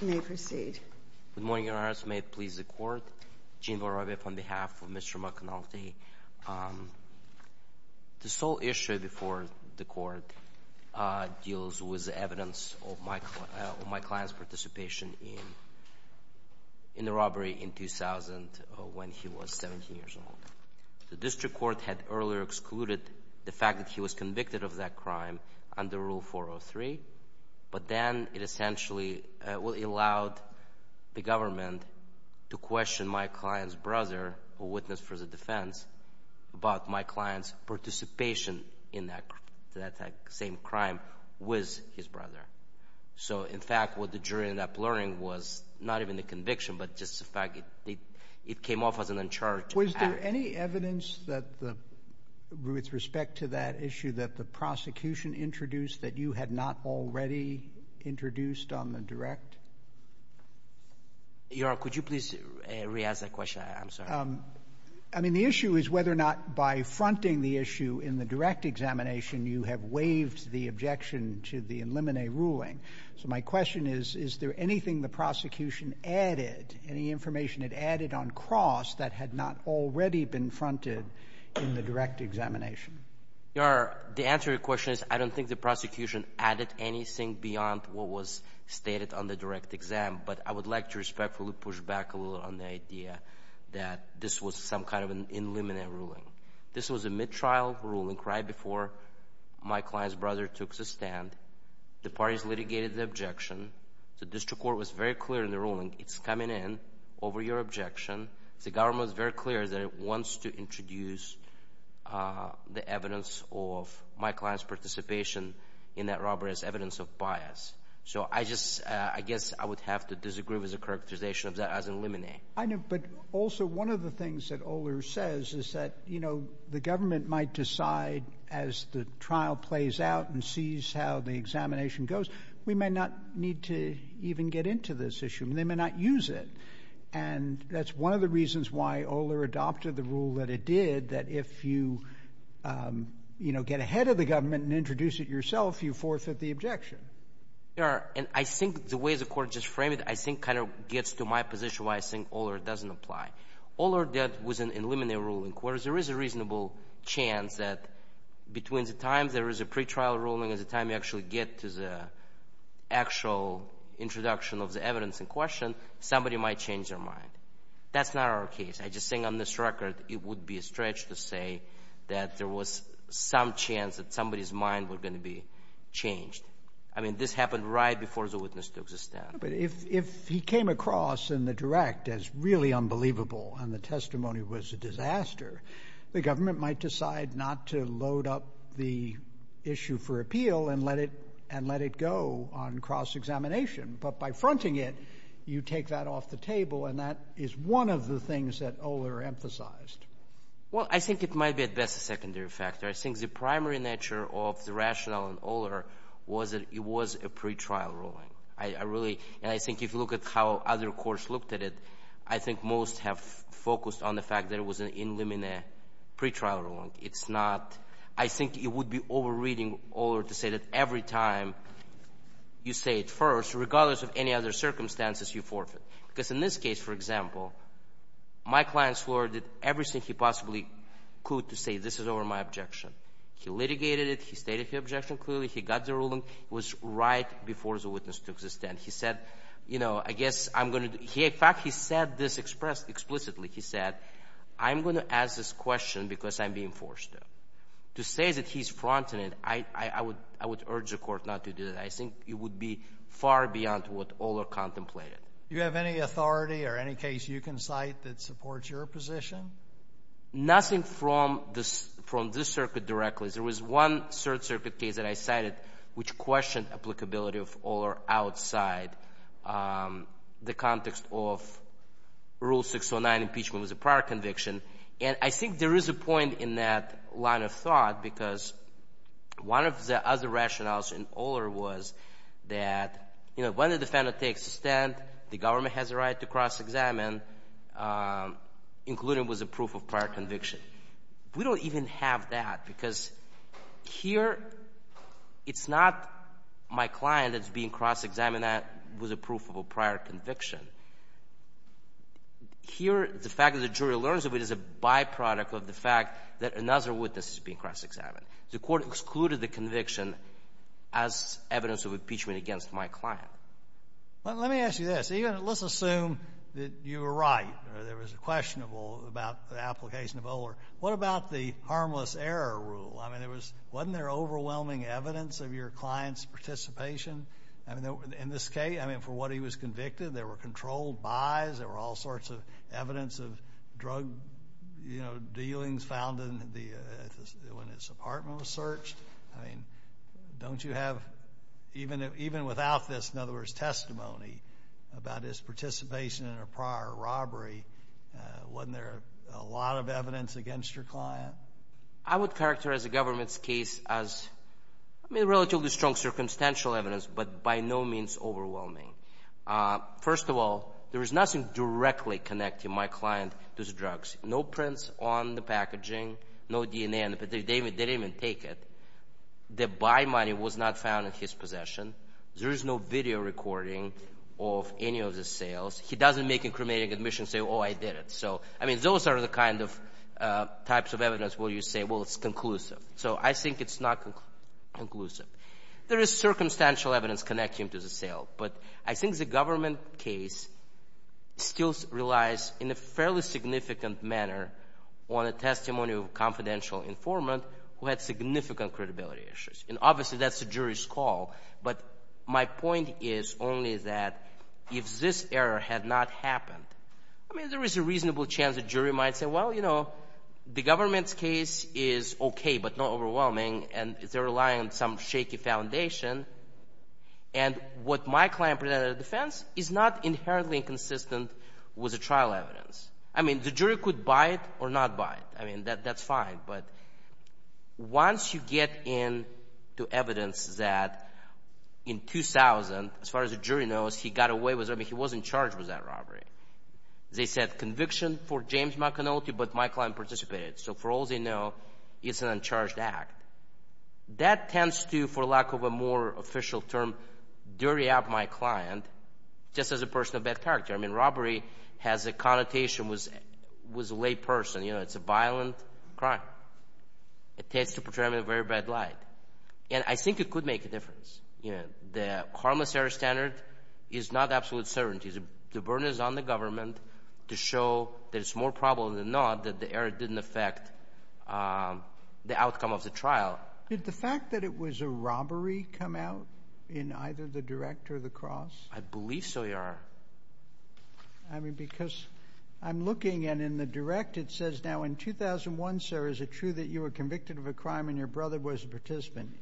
May proceed. Good morning, Your Honors. May it please the Court. Gene Vorovyev on behalf of Mr. McAnulty. The sole issue before the Court deals with evidence of my client's participation in the robbery in 2000 when he was 17 years old. The district court had earlier excluded the fact that he was convicted of that crime under Rule 403. But then it essentially allowed the government to question my client's brother, a witness for the defense, about my client's participation in that same crime with his brother. So, in fact, what the jury ended up learning was not even the conviction, but just the fact it came off as an uncharged act. Was there any evidence that the — with respect to that issue that the prosecution introduced that you had not already introduced on the direct? Your Honor, could you please re-ask that question? I'm sorry. I mean, the issue is whether or not by fronting the issue in the direct examination you have waived the objection to the eliminate ruling. So my question is, is there anything the prosecution added, any information it added on cross that had not already been fronted in the direct examination? Your Honor, the answer to your question is I don't think the prosecution added anything beyond what was stated on the direct exam. But I would like to respectfully push back a little on the idea that this was some kind of an eliminate ruling. This was a mid-trial ruling right before my client's brother took the stand. The parties litigated the objection. The district court was very clear in the ruling. It's coming in over your objection. The government was very clear that it wants to introduce the evidence of my client's participation in that robbery as evidence of bias. So I just — I guess I would have to disagree with the characterization of that as eliminate. I know, but also one of the things that Oler says is that, you know, the government might decide as the trial plays out and sees how the examination goes, we may not need to even get into this issue. They may not use it. And that's one of the reasons why Oler adopted the rule that it did, that if you, you know, get ahead of the government and introduce it yourself, you forfeit the objection. And I think the way the court just framed it, I think kind of gets to my position why I think Oler doesn't apply. Oler did — was an eliminate ruling, whereas there is a reasonable chance that between the time there is a pretrial ruling and the time you actually get to the actual introduction of the evidence in question, somebody might change their mind. That's not our case. I'm just saying on this record, it would be a stretch to say that there was some chance that somebody's mind was going to be changed. I mean, this happened right before the witness took the stand. But if he came across in the direct as really unbelievable and the testimony was a disaster, the government might decide not to load up the issue for appeal and let it go on cross-examination. But by fronting it, you take that off the table, and that is one of the things that Oler emphasized. Well, I think it might be at best a secondary factor. I think the primary nature of the rationale in Oler was that it was a pretrial ruling. I really — and I think if you look at how other courts looked at it, I think most have focused on the fact that it was an eliminate pretrial ruling. It's not — I think it would be over-reading Oler to say that every time you say it first, regardless of any other circumstances, you forfeit. Because in this case, for example, my client's lawyer did everything he possibly could to say this is over my objection. He litigated it. He stated his objection clearly. He got the ruling. It was right before the witness took the stand. He said, you know, I guess I'm going to — in fact, he said this explicitly. He said, I'm going to ask this question because I'm being forced to. To say that he's fronting it, I would urge the court not to do that. I think it would be far beyond what Oler contemplated. Do you have any authority or any case you can cite that supports your position? Nothing from this — from this circuit directly. There was one Third Circuit case that I cited which questioned applicability of Oler outside the context of Rule 609 impeachment was a prior conviction. And I think there is a point in that line of thought because one of the other rationales in Oler was that, you know, when the defender takes a stand, the government has a right to cross-examine, including with a proof of prior conviction. We don't even have that because here it's not my client that's being cross-examined with a proof of a prior conviction. Here, the fact that the jury learns of it is a byproduct of the fact that another witness is being cross-examined. The court excluded the conviction as evidence of impeachment against my client. Let me ask you this. Let's assume that you were right or there was a question about the application of Oler. What about the harmless error rule? I mean, wasn't there overwhelming evidence of your client's participation? I mean, in this case, I mean, for what he was convicted, there were controlled buys. There were all sorts of evidence of drug, you know, dealings found when his apartment was searched. I mean, don't you have, even without this, in other words, testimony about his participation in a prior robbery, wasn't there a lot of evidence against your client? I would characterize the government's case as, I mean, relatively strong circumstantial evidence but by no means overwhelming. First of all, there was nothing directly connecting my client to the drugs. No prints on the packaging, no DNA. They didn't even take it. The buy money was not found in his possession. There is no video recording of any of the sales. He doesn't make a cremating admission and say, oh, I did it. So, I mean, those are the kind of types of evidence where you say, well, it's conclusive. So I think it's not conclusive. There is circumstantial evidence connecting him to the sale. But I think the government case still relies in a fairly significant manner on a testimony of a confidential informant who had significant credibility issues. And obviously that's the jury's call. But my point is only that if this error had not happened, I mean, there is a reasonable chance the jury might say, well, you know, the government's case is okay but not overwhelming and they're relying on some shaky foundation. And what my client presented as defense is not inherently inconsistent with the trial evidence. I mean, the jury could buy it or not buy it. I mean, that's fine. But once you get into evidence that in 2000, as far as the jury knows, he got away with it. I mean, he wasn't charged with that robbery. They said conviction for James McAnulty, but my client participated. So for all they know, it's an uncharged act. That tends to, for lack of a more official term, dirty up my client just as a person of bad character. I mean, robbery has a connotation with a lay person. You know, it's a violent crime. It tends to portray him in a very bad light. And I think it could make a difference. You know, the harmless error standard is not absolute certainty. The burden is on the government to show that it's more probable than not that the error didn't affect the outcome of the trial. Did the fact that it was a robbery come out in either the direct or the cross? I believe so, Your Honor. I mean, because I'm looking, and in the direct it says, now in 2001, sir, is it true that you were convicted of a crime and your brother was a participant?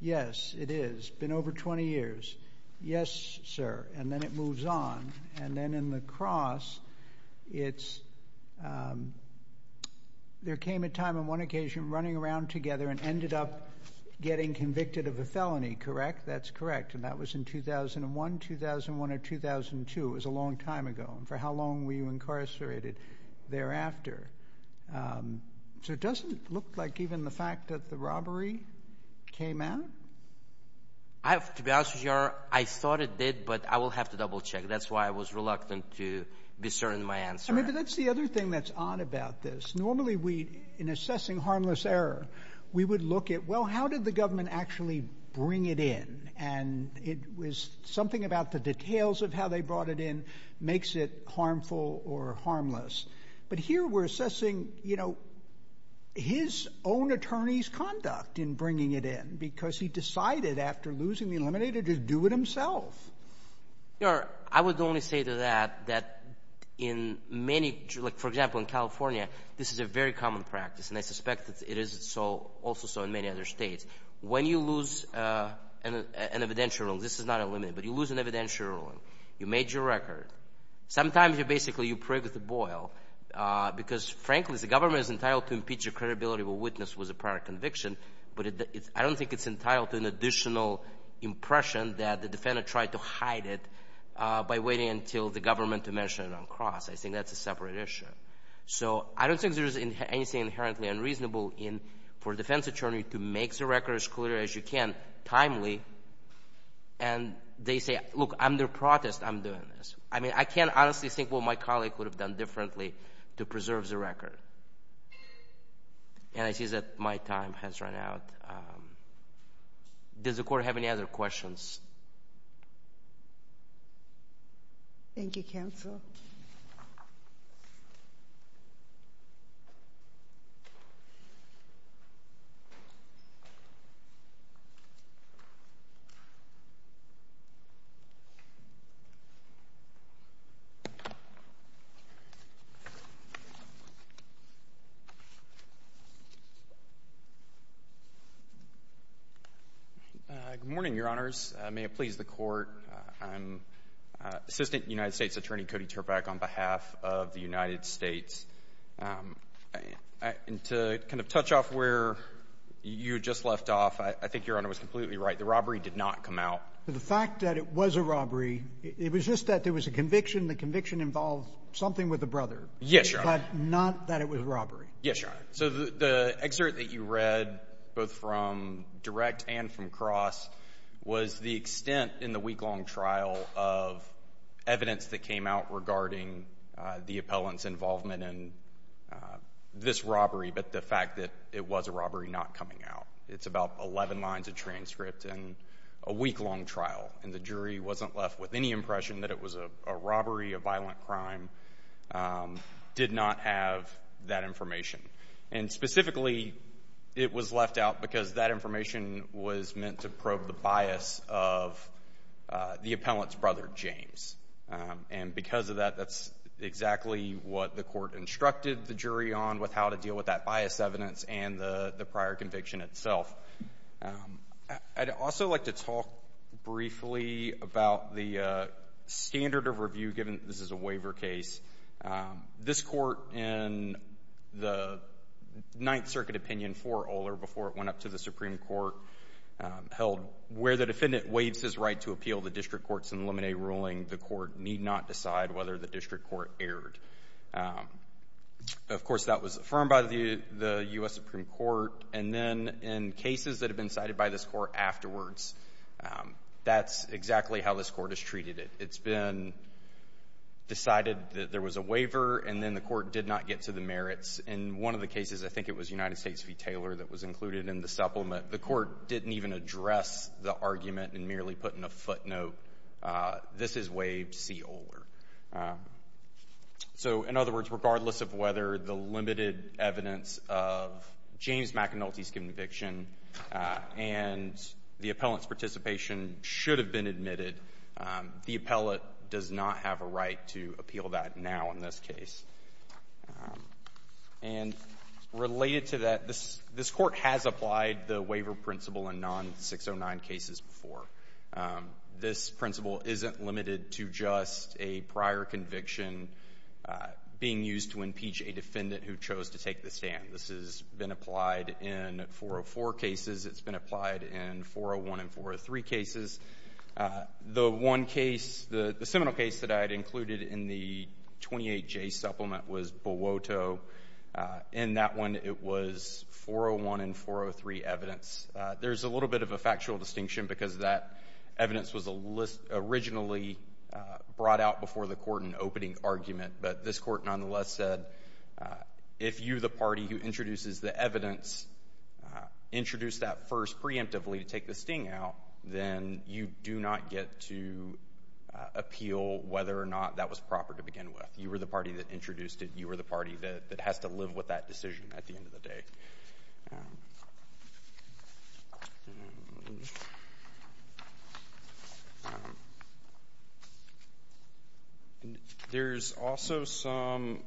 Yes, it is. It's been over 20 years. Yes, sir. And then it moves on. And then in the cross, there came a time on one occasion running around together and ended up getting convicted of a felony, correct? That's correct. And that was in 2001, 2001, or 2002. It was a long time ago. And for how long were you incarcerated thereafter? So it doesn't look like even the fact that the robbery came out? To be honest with you, Your Honor, I thought it did, but I will have to double check. That's why I was reluctant to discern my answer. I mean, but that's the other thing that's odd about this. Normally we, in assessing harmless error, we would look at, well, how did the government actually bring it in? And it was something about the details of how they brought it in makes it harmful or harmless. But here we're assessing, you know, his own attorney's conduct in bringing it in, because he decided after losing the eliminator to do it himself. Your Honor, I would only say to that, that in many, like, for example, in California, this is a very common practice, and I suspect it is also so in many other states. When you lose an evidential ruling, this is not eliminated, but you lose an evidential ruling, you made your record. Sometimes you're basically, you prigged the boil, because, frankly, the government is entitled to impeach a credibility of a witness with a prior conviction, but I don't think it's entitled to an additional impression that the defendant tried to hide it by waiting until the government to mention it on the cross. I think that's a separate issue. So I don't think there's anything inherently unreasonable in, for a defense attorney to make the record as clear as you can timely, and they say, look, under protest I'm doing this. I mean, I can't honestly think what my colleague would have done differently to preserve the record. And I see that my time has run out. Does the Court have any other questions? Thank you, Counsel. Good morning, Your Honors. May it please the Court. I'm Assistant United States Attorney Cody Terpak on behalf of the United States. And to kind of touch off where you just left off, I think Your Honor was completely right. The robbery did not come out. The fact that it was a robbery, it was just that there was a conviction. The conviction involved something with a brother. Yes, Your Honor. But not that it was a robbery. Yes, Your Honor. So the excerpt that you read, both from direct and from cross, was the extent in the week-long trial of evidence that came out regarding the appellant's involvement in this robbery, but the fact that it was a robbery not coming out. It's about 11 lines of transcript in a week-long trial, and the jury wasn't left with any did not have that information. And specifically, it was left out because that information was meant to probe the bias of the appellant's brother, James. And because of that, that's exactly what the Court instructed the jury on with how to deal with that bias evidence and the prior conviction itself. I'd also like to talk briefly about the standard of review, given this is a waiver case. This Court, in the Ninth Circuit opinion for Oler, before it went up to the Supreme Court, held where the defendant waives his right to appeal the district court's in limine ruling, the court need not decide whether the district court erred. Of course, that was affirmed by the U.S. Supreme Court. And then in cases that have been cited by this Court afterwards, that's exactly how this Court has treated it. It's been decided that there was a waiver, and then the Court did not get to the merits. In one of the cases, I think it was United States v. Taylor that was included in the supplement, the Court didn't even address the argument and merely put in a footnote, this is waived, see Oler. So, in other words, regardless of whether the limited evidence of James McAnulty's conviction and the appellant's participation should have been admitted, the appellant does not have a right to appeal that now in this case. And related to that, this Court has applied the waiver principle in non-609 cases before. This principle isn't limited to just a prior conviction being used to impeach a defendant who chose to take the stand. This has been applied in 404 cases. It's been applied in 401 and 403 cases. The one case, the seminal case that I had included in the 28J supplement was Buwoto. In that one, it was 401 and 403 evidence. There's a little bit of a factual distinction because that evidence was originally brought out before the Court in an opening argument, but this Court nonetheless said if you, the party who introduces the evidence, introduced that first preemptively to take the sting out, then you do not get to appeal whether or not that was proper to begin with. You were the party that introduced it. You were the party that has to live with that decision at the end of the day. There's also some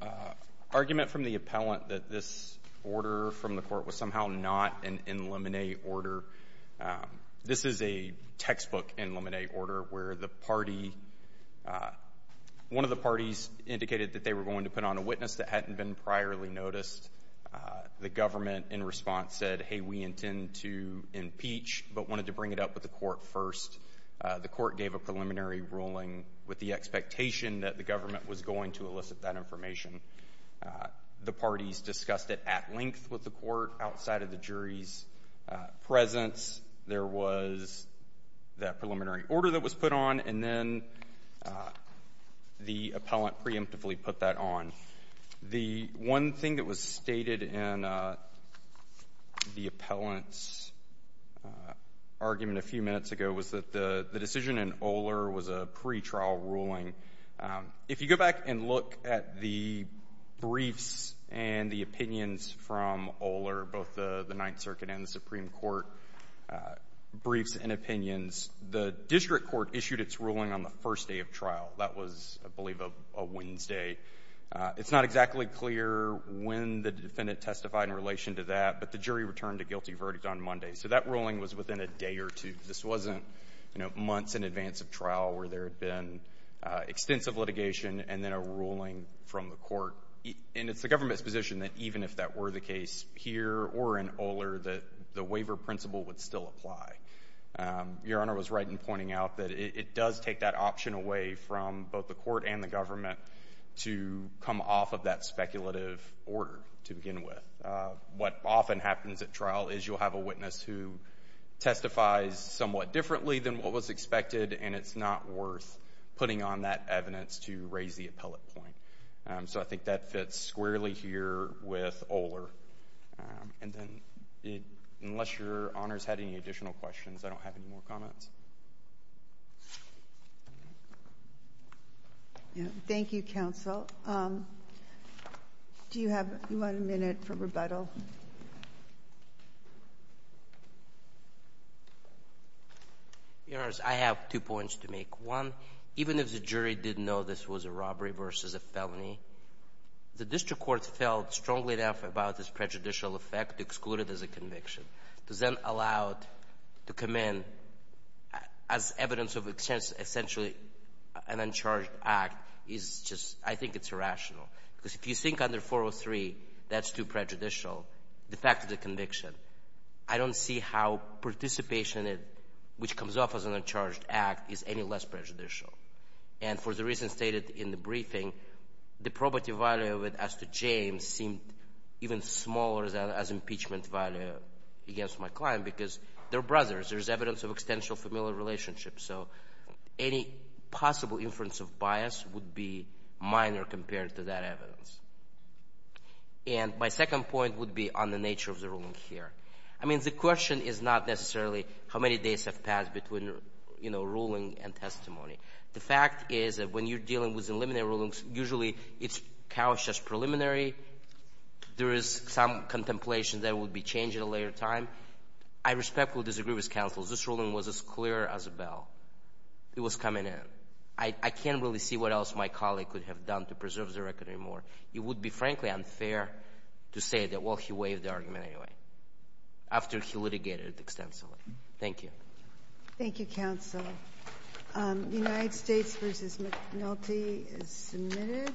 argument from the appellant that this order from the Court was somehow not an in limine order. This is a textbook in limine order where the party — one of the parties indicated that they were going to put on a witness that hadn't been priorly noticed. The government, in response, said, hey, we intend to impeach, but wanted to bring it up with the Court first. The Court gave a preliminary ruling with the expectation that the government was going to elicit that information. The parties discussed it at length with the Court outside of the jury's presence. There was that preliminary order that was put on, and then the appellant preemptively put that on. The one thing that was stated in the appellant's argument a few minutes ago was that the decision in Oler was a pretrial ruling. If you go back and look at the briefs and the opinions from Oler, both the Ninth Circuit and the Supreme Court briefs and opinions, the district court issued its ruling on the first day of trial. That was, I believe, a Wednesday. It's not exactly clear when the defendant testified in relation to that, but the jury returned a guilty verdict on Monday. So that ruling was within a day or two. This wasn't, you know, months in advance of trial where there had been extensive litigation and then a ruling from the Court. And it's the government's position that even if that were the case here or in Oler, that the waiver principle would still apply. Your Honor was right in pointing out that it does take that option away from both the Court and the government to come off of that speculative order to begin with. What often happens at trial is you'll have a witness who testifies somewhat differently than what was expected, and it's not worth putting on that evidence to raise the appellate point. So I think that fits squarely here with Oler. And then unless Your Honor's had any additional questions, I don't have any more comments. Thank you, counsel. Do you have one minute for rebuttal? Your Honor, I have two points to make. One, even if the jury didn't know this was a robbery versus a felony, the district court felt strongly enough about this prejudicial effect to exclude it as a conviction. To then allow it to come in as evidence of essentially an uncharged act is just — I think it's irrational. Because if you think under 403 that's too prejudicial, the fact of the conviction, I don't see how participation in it, which comes off as an uncharged act, is any less prejudicial. And for the reason stated in the briefing, the probative value of it as to James seemed even smaller as impeachment value against my client, because they're brothers. There's evidence of extensional familial relationships. So any possible inference of bias would be minor compared to that evidence. And my second point would be on the nature of the ruling here. I mean, the question is not necessarily how many days have passed between, you know, ruling and testimony. The fact is that when you're dealing with preliminary rulings, usually it's couched as preliminary. There is some contemplation that it would be changed at a later time. I respectfully disagree with counsel. This ruling was as clear as a bell. It was coming in. I can't really see what else my colleague could have done to preserve the record anymore. It would be, frankly, unfair to say that, well, he waived the argument anyway after he litigated extensively. Thank you. Thank you, counsel. United States v. McNulty is submitted.